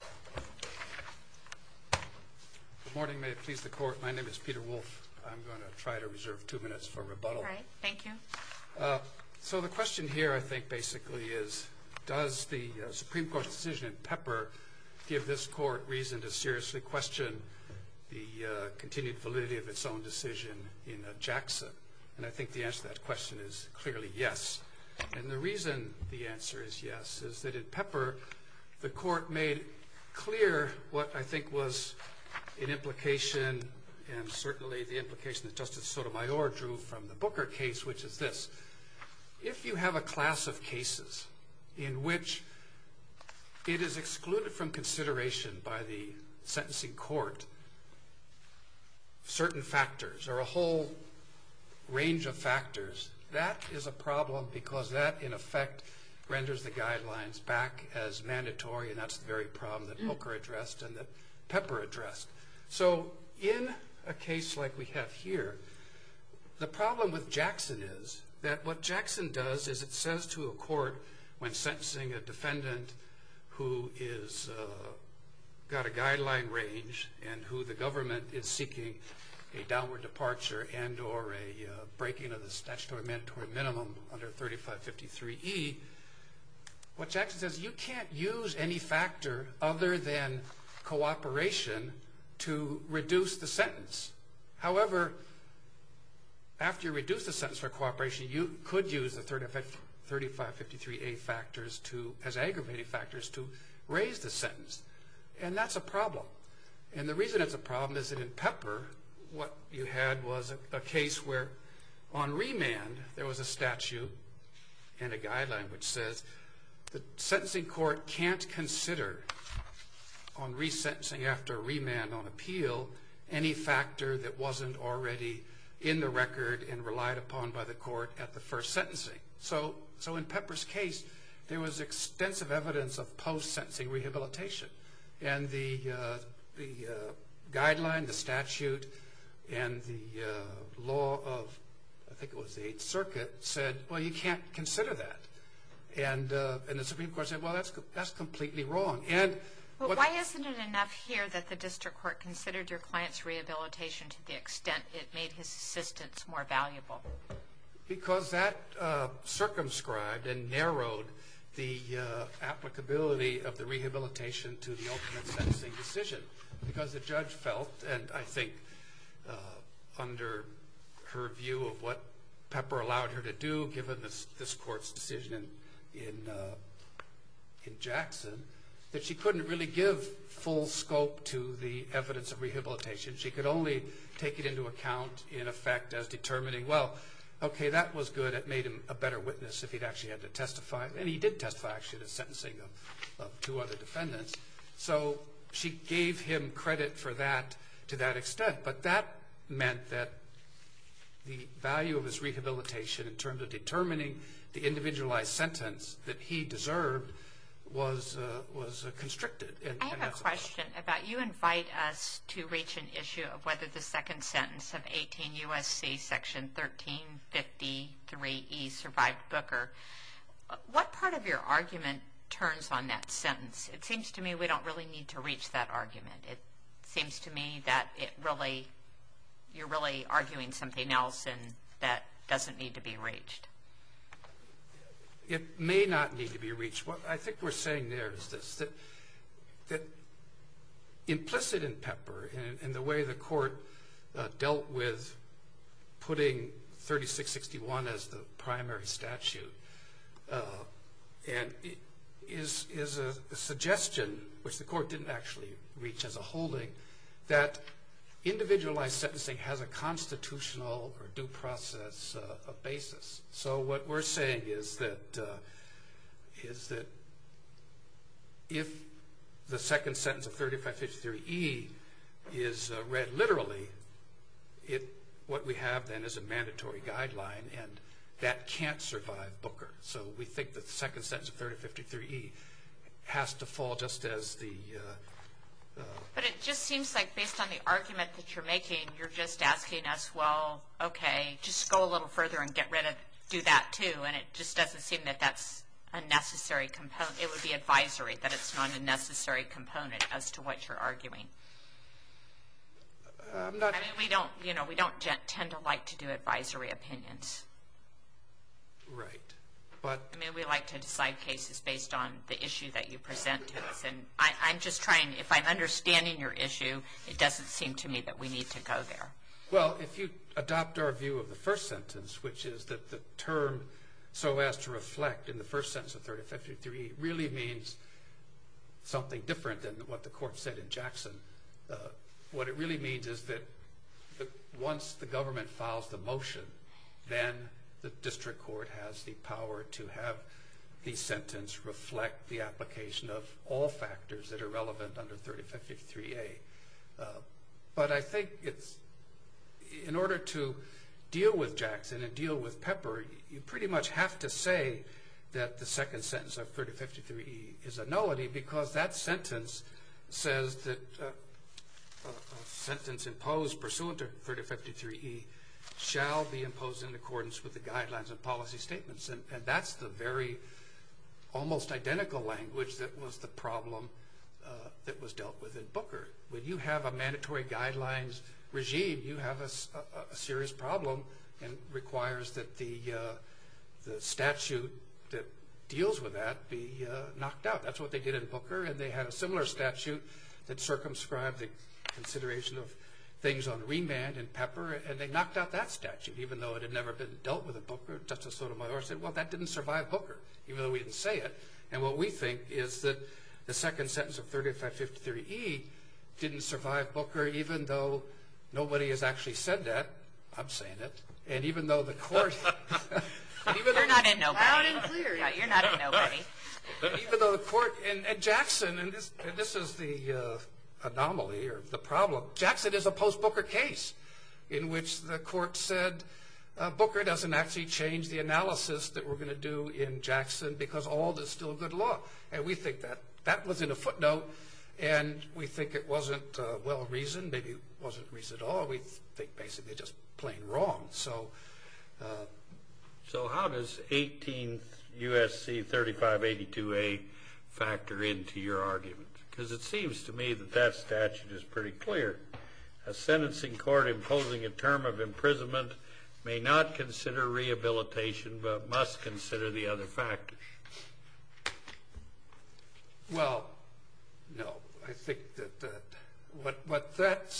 Good morning. May it please the Court, my name is Peter Wolfe. I'm going to try to reserve two minutes for rebuttal. All right, thank you. So the question here I think basically is does the Supreme Court decision in Pepper give this Court reason to seriously question the continued validity of its own decision in Jackson? And I think the answer to that clear what I think was an implication and certainly the implication that Justice Sotomayor drew from the Booker case, which is this. If you have a class of cases in which it is excluded from consideration by the sentencing court, certain factors or a whole range of factors, that is a problem because that in effect renders the guidelines back as mandatory. And that's the very problem that Booker addressed and that Pepper addressed. So in a case like we have here, the problem with Jackson is that what Jackson does is it says to a court when sentencing a defendant who has got a guideline range and who the government is seeking a downward departure and or a breaking of the statutory mandatory minimum under 3553E, what factor other than cooperation to reduce the sentence? However, after you reduce the sentence for cooperation, you could use the 3553A factors as aggravating factors to raise the sentence. And that's a problem. And the reason it's a problem is that in Pepper what you had was a case where on remand there was a statute and a guideline which says the sentencing court can't consider on resentencing after remand on appeal any factor that wasn't already in the record and relied upon by the court at the first sentencing. So in Pepper's case there was extensive evidence of post-sentencing rehabilitation. And the guideline, the statute and the law of I think it was the 8th Circuit said, well, you can't consider that. And the that's completely wrong. But why isn't it enough here that the district court considered your client's rehabilitation to the extent it made his assistance more valuable? Because that circumscribed and narrowed the applicability of the rehabilitation to the ultimate sentencing decision. Because the judge felt, and I think under her view of what Pepper allowed her to do given this court's decision in Jackson, that she couldn't really give full scope to the evidence of rehabilitation. She could only take it into account in effect as determining, well, okay, that was good. It made him a better witness if he'd actually had to testify. And he did testify actually to sentencing of two other defendants. So she gave him credit for that to that extent. But that meant that the value of his rehabilitation in terms of determining the individualized sentence that he deserved was constricted. I have a question about, you invite us to reach an issue of whether the second sentence of 18 U.S.C. section 1353E survived Booker. What part of your argument turns on that sentence? It seems to me we don't really need to reach that argument. It seems to me that it really, you're really arguing something else and that doesn't need to be reached. It may not need to be reached. What I think we're saying there is this, that implicit in Pepper and the way the court dealt with putting 3661 as the primary statute and is a suggestion, which the court didn't actually reach as a holding, that individualized sentencing has a constitutional or due process basis. So what we're saying is that if the second sentence of 3553E is read literally, what we have then is a mandatory guideline and that can't survive Booker. So we think the second sentence of 3053E has to fall just as the... But it just seems like based on the argument that you're making, you're just asking us, well, okay, just go a little further and get rid of, do that too. And it just doesn't seem that that's a necessary component. It would be advisory that it's not a necessary component as to what you're arguing. I mean, we don't tend to like to do advisory opinions. Right. I mean, we like to decide cases based on the issue that you present to us. And I'm just trying, if I'm understanding your issue, it doesn't seem to me that we need to go there. Well, if you adopt our view of the first sentence of 3053E, it really means something different than what the court said in Jackson. What it really means is that once the government files the motion, then the district court has the power to have the sentence reflect the application of all factors that are relevant under 3053A. But I think it's, in order to deal with Jackson and deal with Pepper, you pretty much have to say that the second sentence of 3053E is a nullity because that sentence says that a sentence imposed pursuant to 3053E shall be imposed in accordance with the guidelines and policy statements. And that's the very almost identical language that was the problem that was dealt with in Booker. When you have a mandatory guidelines regime, you have a serious problem and requires that the statute that deals with that be knocked out. That's what they did in Booker. And they had a similar statute that circumscribed the consideration of things on remand and Pepper. And they knocked out that statute, even though it had never been dealt with in Booker. Justice Sotomayor said, well, that didn't survive Booker, even though we didn't say it. And what we think is that the second sentence of 3053E didn't survive Booker, even though nobody has actually said that. I'm saying it. And even though the court... You're not in nobody. Loud and clear. Yeah, you're not in nobody. Even though the court, and Jackson, and this is the anomaly or the problem. Jackson is a post-Booker case in which the court said, Booker doesn't actually change the analysis that we're going to do in Jackson because Ald is still good law. And we think that that was in a footnote. And we think it wasn't well-reasoned. Maybe it wasn't reasoned at all. We think basically just plain wrong. So how does 18 U.S.C. 3582A factor into your argument? Because it seems to me that that statute is pretty clear. A sentencing court imposing a term of imprisonment may not consider that. But that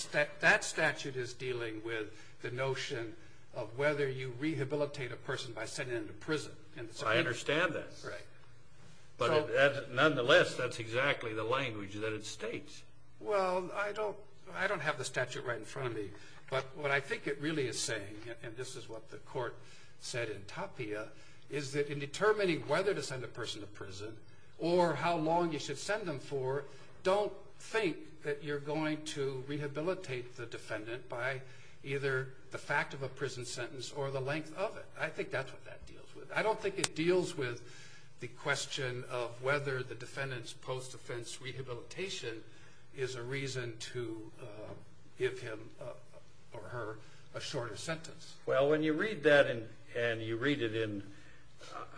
statute is dealing with the notion of whether you rehabilitate a person by sending them to prison. I understand that. But nonetheless, that's exactly the language that it states. Well, I don't have the statute right in front of me. But what I think it really is saying, and this is what the court said in Tapia, is that in determining whether to send a person to prison or how long you should send them for, don't think that you're going to rehabilitate the defendant by either the fact of a prison sentence or the length of it. I think that's what that deals with. I don't think it deals with the question of whether the defendant's post-defense rehabilitation is a reason to give him or her a shorter sentence. Well, when you read that and you read it in,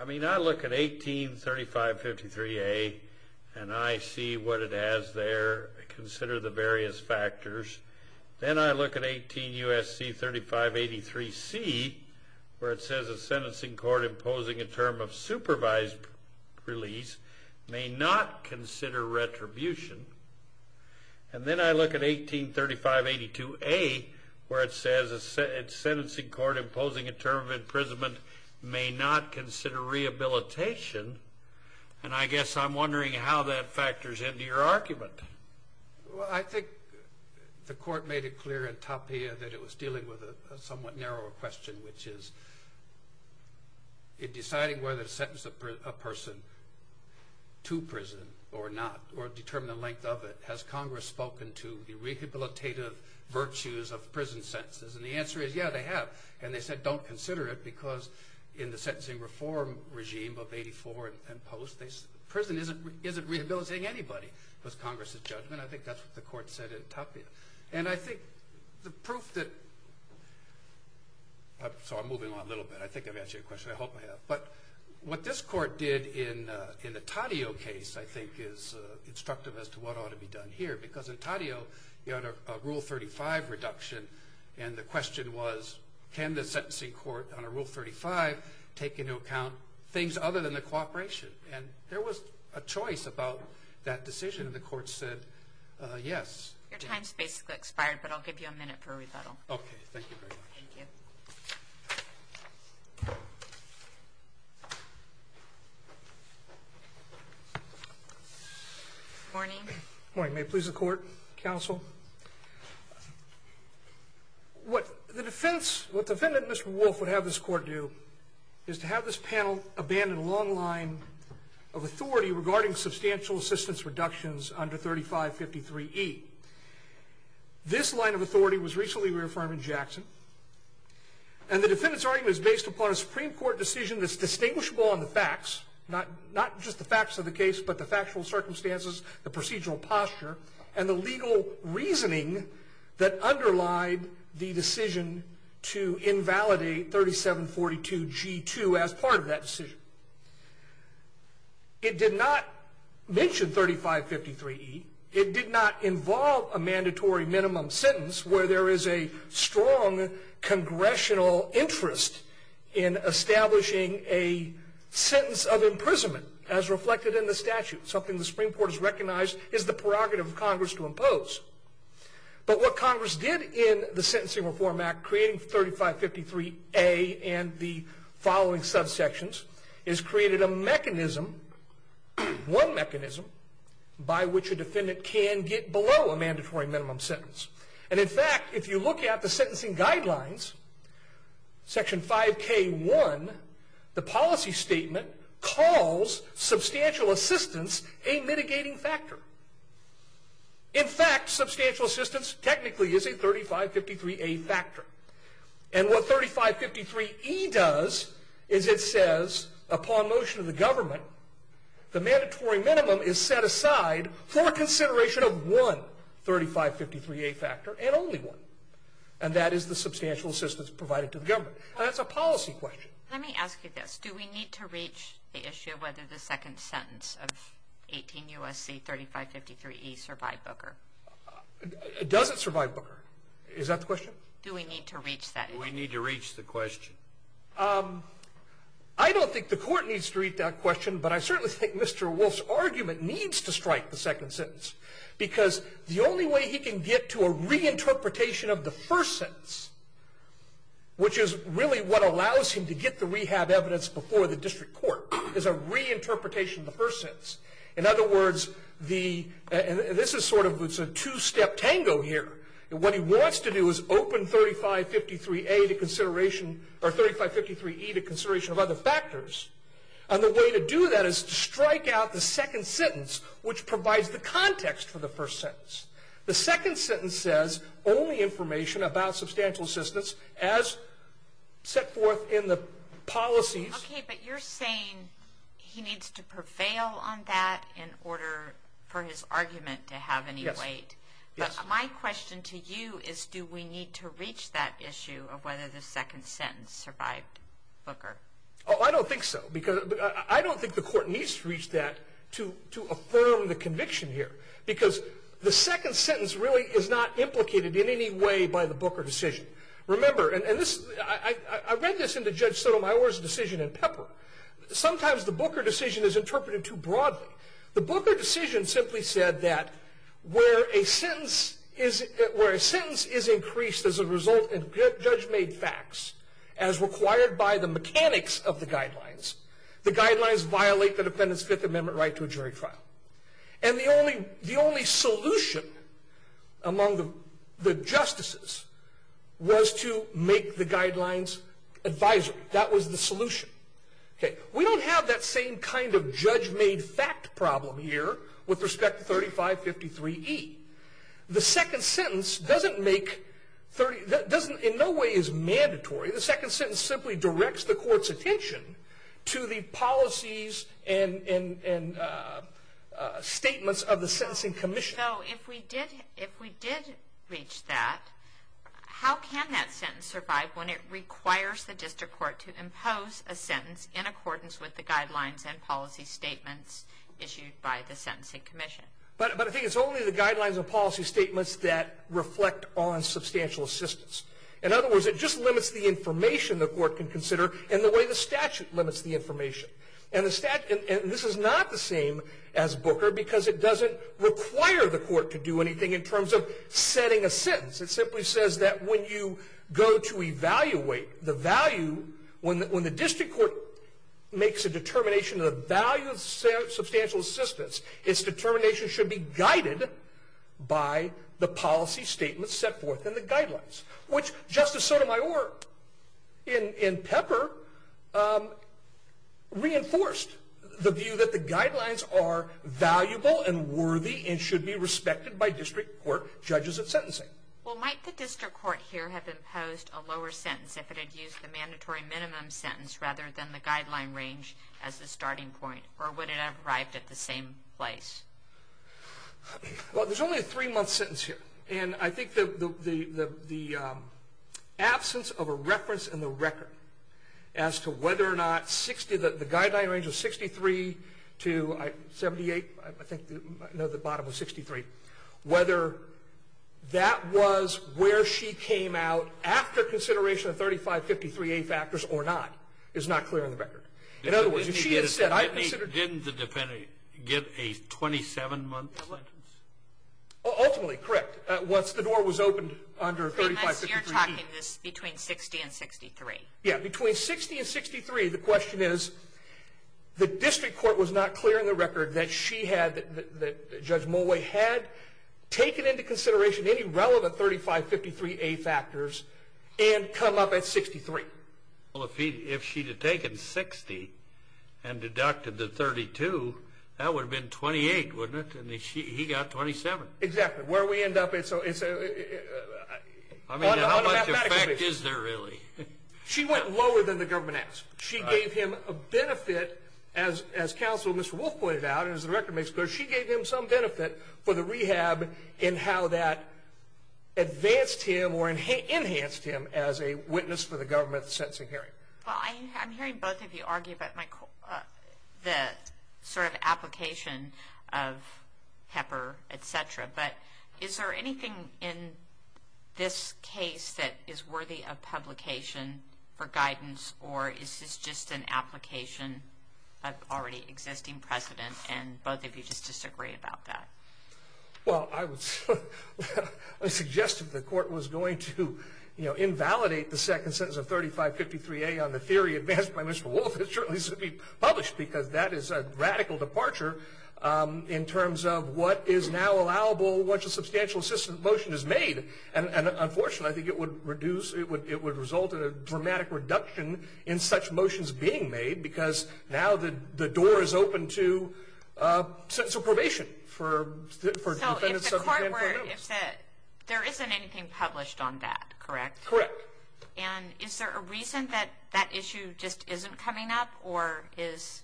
I mean, I look at 183553A, and I see what it has there. Consider the various factors. Then I look at 18U.S.C. 3583C, where it says a sentencing court imposing a term of supervised release may not consider retribution. And then I look at 183582A, where it says a defendant may not consider rehabilitation. And I guess I'm wondering how that factors into your argument. Well, I think the court made it clear in Tapia that it was dealing with a somewhat narrower question, which is in deciding whether to sentence a person to prison or not, or determine the length of it, has Congress spoken to the rehabilitative virtues of prison sentences? And the answer is, yeah, they have. And they said, don't consider it, because in the sentencing reform regime of 1884 and post, prison isn't rehabilitating anybody, was Congress's judgment. I think that's what the court said in Tapia. And I think the proof that... Sorry, I'm moving on a little bit. I think I've answered your question. I hope I have. But what this court did in the Taddeo case, I think, is instructive as to what ought to be done here. Because in Taddeo, you had a Rule 35 reduction, and the question was, can the sentencing court on a Rule 35 take into account things other than the cooperation? And there was a choice about that decision, and the court said, yes. Your time's basically expired, but I'll give you a minute for a rebuttal. Okay. Thank you very much. Thank you. Good morning. Good morning. May it please the court, counsel. What the defendant, Mr. Wolf, would have this court do is to have this panel abandon a long line of authority regarding substantial assistance reductions under 3553E. This line of authority was recently reaffirmed in Jackson, and the defendant's argument is based upon a Supreme Court decision that's distinguishable on the facts, not just the facts of the case, but the factual circumstances, the procedural posture, and the legal reasoning that underlied the decision to invalidate 3742G2 as part of that decision. It did not mention 3553E. It did not involve a mandatory minimum sentence where there is a strong congressional interest in establishing a sentence of imprisonment, as reflected in the statute, something the Supreme Court has recognized is the prerogative of Congress to impose. But what Congress did in the Sentencing Reform Act, creating 3553A and the following subsections, is created a mechanism, one mechanism, by which a defendant can get below a mandatory minimum sentence. And in fact, if you look at the sentencing guidelines, section 5K1, the policy statement calls substantial assistance a mitigating factor. In fact, substantial assistance technically is a 3553A factor. And what 3553E does is it says, upon motion of the government, the mandatory minimum is set aside for consideration of one 3553A factor, and only one, and that is the substantial assistance provided to the government. That's a policy question. Let me ask you this. Do we need to reach the issue of whether the second sentence of 18 U.S.C. 3553E survived Booker? It doesn't survive Booker. Is that the question? Do we need to reach that? Do we need to reach the question? I don't think the court needs to reach that question, but I certainly think Mr. Wolf's argument needs to strike the second sentence, because the only way he can get to a reinterpretation of the first sentence, which is really what allows him to get the rehab evidence before the district court, is a reinterpretation of the first sentence. In other words, the, and this is sort of, it's a two-step tango here. What he wants to do is open 3553A to consideration, or 3553E to consideration of other factors, and the way to do that is to strike out the second sentence, which provides the context for the first sentence. The second sentence says, only information about substantial assistance as set forth in the policies. Okay, but you're saying he needs to prevail on that in order for his argument to have any weight. Yes. But my question to you is, do we need to reach that issue of whether the second sentence survived Booker? Oh, I don't think so, because I don't think the court needs to reach that to affirm the conviction here, because the second sentence really is not implicated in any way by the Booker decision. Remember, and this, I read this in the Judge Sotomayor's decision in Pepper. Sometimes the Booker decision is interpreted too broadly. The Booker decision simply said that where a sentence is increased as a result of judge-made facts, as required by the mechanics of the guidelines, the guidelines violate the defendant's Fifth Amendment right to a jury trial. And the only solution among the justices was to make the guidelines advisory. That was the solution. Okay, we don't have that same kind of judge-made fact problem here with respect to 3553E. The second sentence doesn't make, in no way is mandatory. The second sentence simply directs court's attention to the policies and statements of the Sentencing Commission. So, if we did reach that, how can that sentence survive when it requires the District Court to impose a sentence in accordance with the guidelines and policy statements issued by the Sentencing Commission? But I think it's only the guidelines and policy statements that reflect on substantial assistance. In other words, it just limits the information the court can consider and the way the statute limits the information. And this is not the same as Booker because it doesn't require the court to do anything in terms of setting a sentence. It simply says that when you go to evaluate the value, when the District Court makes a determination of the value of substantial assistance, its determination should be guided by the policy statements set forth in the guidelines. Which, Justice Sotomayor, in Pepper, reinforced the view that the guidelines are valuable and worthy and should be respected by District Court judges of sentencing. Well, might the District Court here have imposed a lower sentence if it had used the mandatory minimum sentence rather than the guideline range as the starting point? Or would it have arrived at the same place? Well, there's only a three-month sentence here. And I think the absence of a reference in the record as to whether or not the guideline range of 63 to 78, I think, no, the bottom was 63, whether that was where she came out after consideration of 3553A factors or not is not clear in the record. In other words, if she had said, I consider... Didn't the defendant get a 27-month sentence? Ultimately, correct. Once the door was opened under 3553A. So you're talking this between 60 and 63? Yeah, between 60 and 63. The question is, the District Court was not clear in the record that she had, that Judge Mulway had taken into consideration any relevant 3553A factors and come up at 63. Well, if she'd have taken 60 and deducted the 32, that would have been 28, wouldn't it? And he got 27. Exactly. Where we end up, it's... I mean, how much effect is there really? She went lower than the government asked. She gave him a benefit, as counsel Mr. Wolf pointed out, and as the record makes clear, she gave him some benefit for the rehab in how that sentencing hearing. Well, I'm hearing both of you argue about the sort of application of Pepper, etc. But is there anything in this case that is worthy of publication for guidance, or is this just an application of already existing precedent, and both of you just disagree about that? Well, I would suggest if the court was going to invalidate the second sentence of 3553A on the theory advanced by Mr. Wolf, it certainly should be published, because that is a radical departure in terms of what is now allowable once a substantial assistance motion is made. And unfortunately, I think it would reduce, it would result in a dramatic reduction in such to a sense of probation for defendants subject to grand court notice. There isn't anything published on that, correct? Correct. And is there a reason that that issue just isn't coming up, or is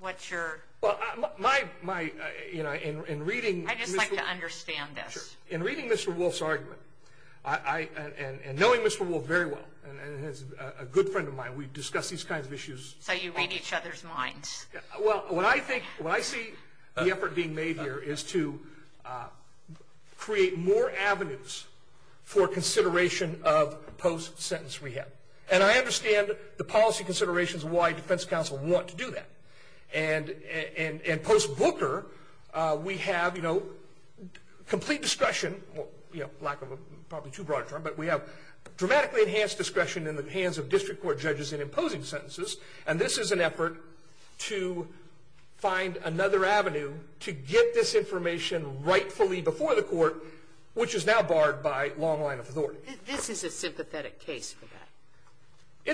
what's your... Well, in reading... I'd just like to understand this. In reading Mr. Wolf's argument, and knowing Mr. Wolf very well, and he's a good friend of mine, we've discussed these kinds of issues. So you read each other's minds. Well, what I think, what I see the effort being made here is to create more avenues for consideration of post-sentence rehab. And I understand the policy considerations of why defense counsel want to do that. And post-Booker, we have complete discretion, well, lack of a, probably too broad a term, but we have dramatically enhanced discretion in the hands of district court judges in imposing sentences. And this is an effort to find another avenue to get this information rightfully before the court, which is now barred by long line of authority. This is a sympathetic case for that.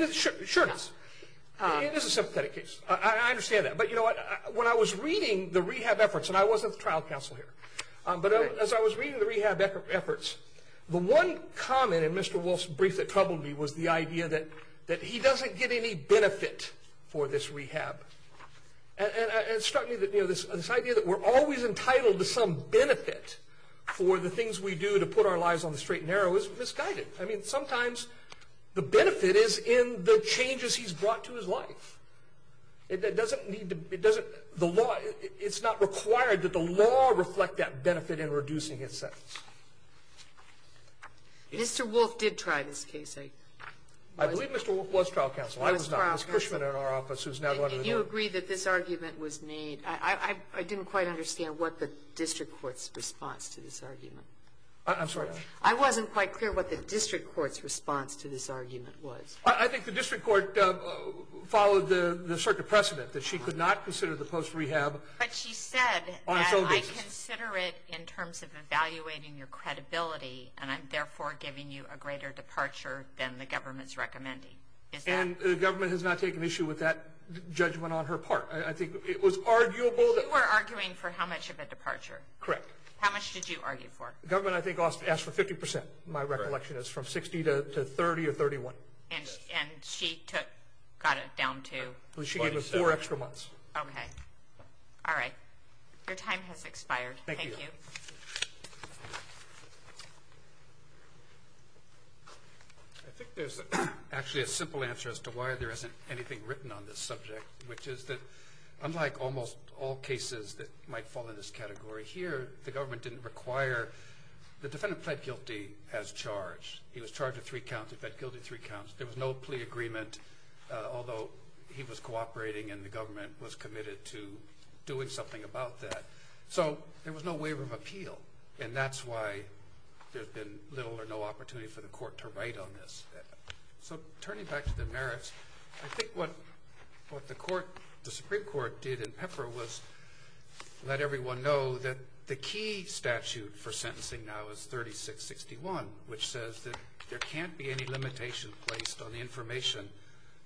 It sure is. It is a sympathetic case. I understand that. But you know what? When I was reading the rehab efforts, and I wasn't the trial counsel here, but as I was reading the rehab efforts, the one comment in Mr. Wolf's brief that troubled me was the benefit for this rehab. And it struck me that, you know, this idea that we're always entitled to some benefit for the things we do to put our lives on the straight and narrow is misguided. I mean, sometimes the benefit is in the changes he's brought to his life. It doesn't need to, it doesn't, the law, it's not required that the law reflect that benefit in reducing his sentence. Mr. Wolf did try this case. I believe Mr. Wolf was trial counsel. I was not. It was Cushman in our office who's now going to the door. If you agree that this argument was made, I didn't quite understand what the district court's response to this argument. I'm sorry. I wasn't quite clear what the district court's response to this argument was. I think the district court followed the circuit precedent that she could not consider the post-rehab on its own basis. But she said that I consider it in terms of evaluating your credibility, and I'm therefore giving you a greater departure than the government's recommending. And the government has not taken issue with that judgment on her part. I think it was arguable. You were arguing for how much of a departure? Correct. How much did you argue for? Government, I think, asked for 50 percent. My recollection is from 60 to 30 or 31. And she took, got it down to? She gave him four extra months. Okay. All right. Your time has expired. Thank you. I think there's actually a simple answer as to why there isn't anything written on this subject, which is that unlike almost all cases that might fall in this category here, the government didn't require, the defendant pled guilty as charged. He was charged with three counts. He pled guilty to three counts. There was no plea agreement, although he was cooperating and the government was committed to doing something about that. So there was no waiver of appeal. And that's why there's been little or no opportunity for the court to write on this. So turning back to the merits, I think what the Supreme Court did in Pepper was let everyone know that the key statute for sentencing now is 3661, which says that there can't be any limitation placed on the information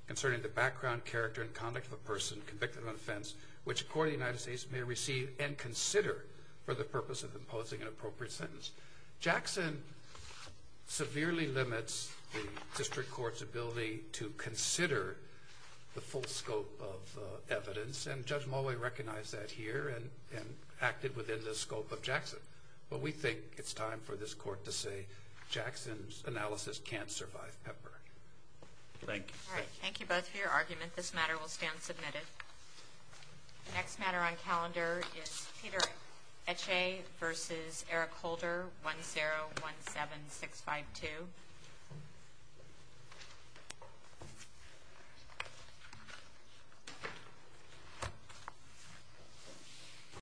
concerning the background, character, and conduct of a person convicted of an offense, which a court of the United States may receive and consider for the purpose of imposing an appropriate sentence. Jackson severely limits the district court's ability to consider the full scope of evidence, and Judge Mulway recognized that here and acted within the scope of Jackson. But we think it's time for this court to say Jackson's analysis can't survive Pepper. Thank you. All right. Thank you both for your argument. This matter will stand submitted. The next matter on calendar is Peter Eche versus Eric Holder, 1017652.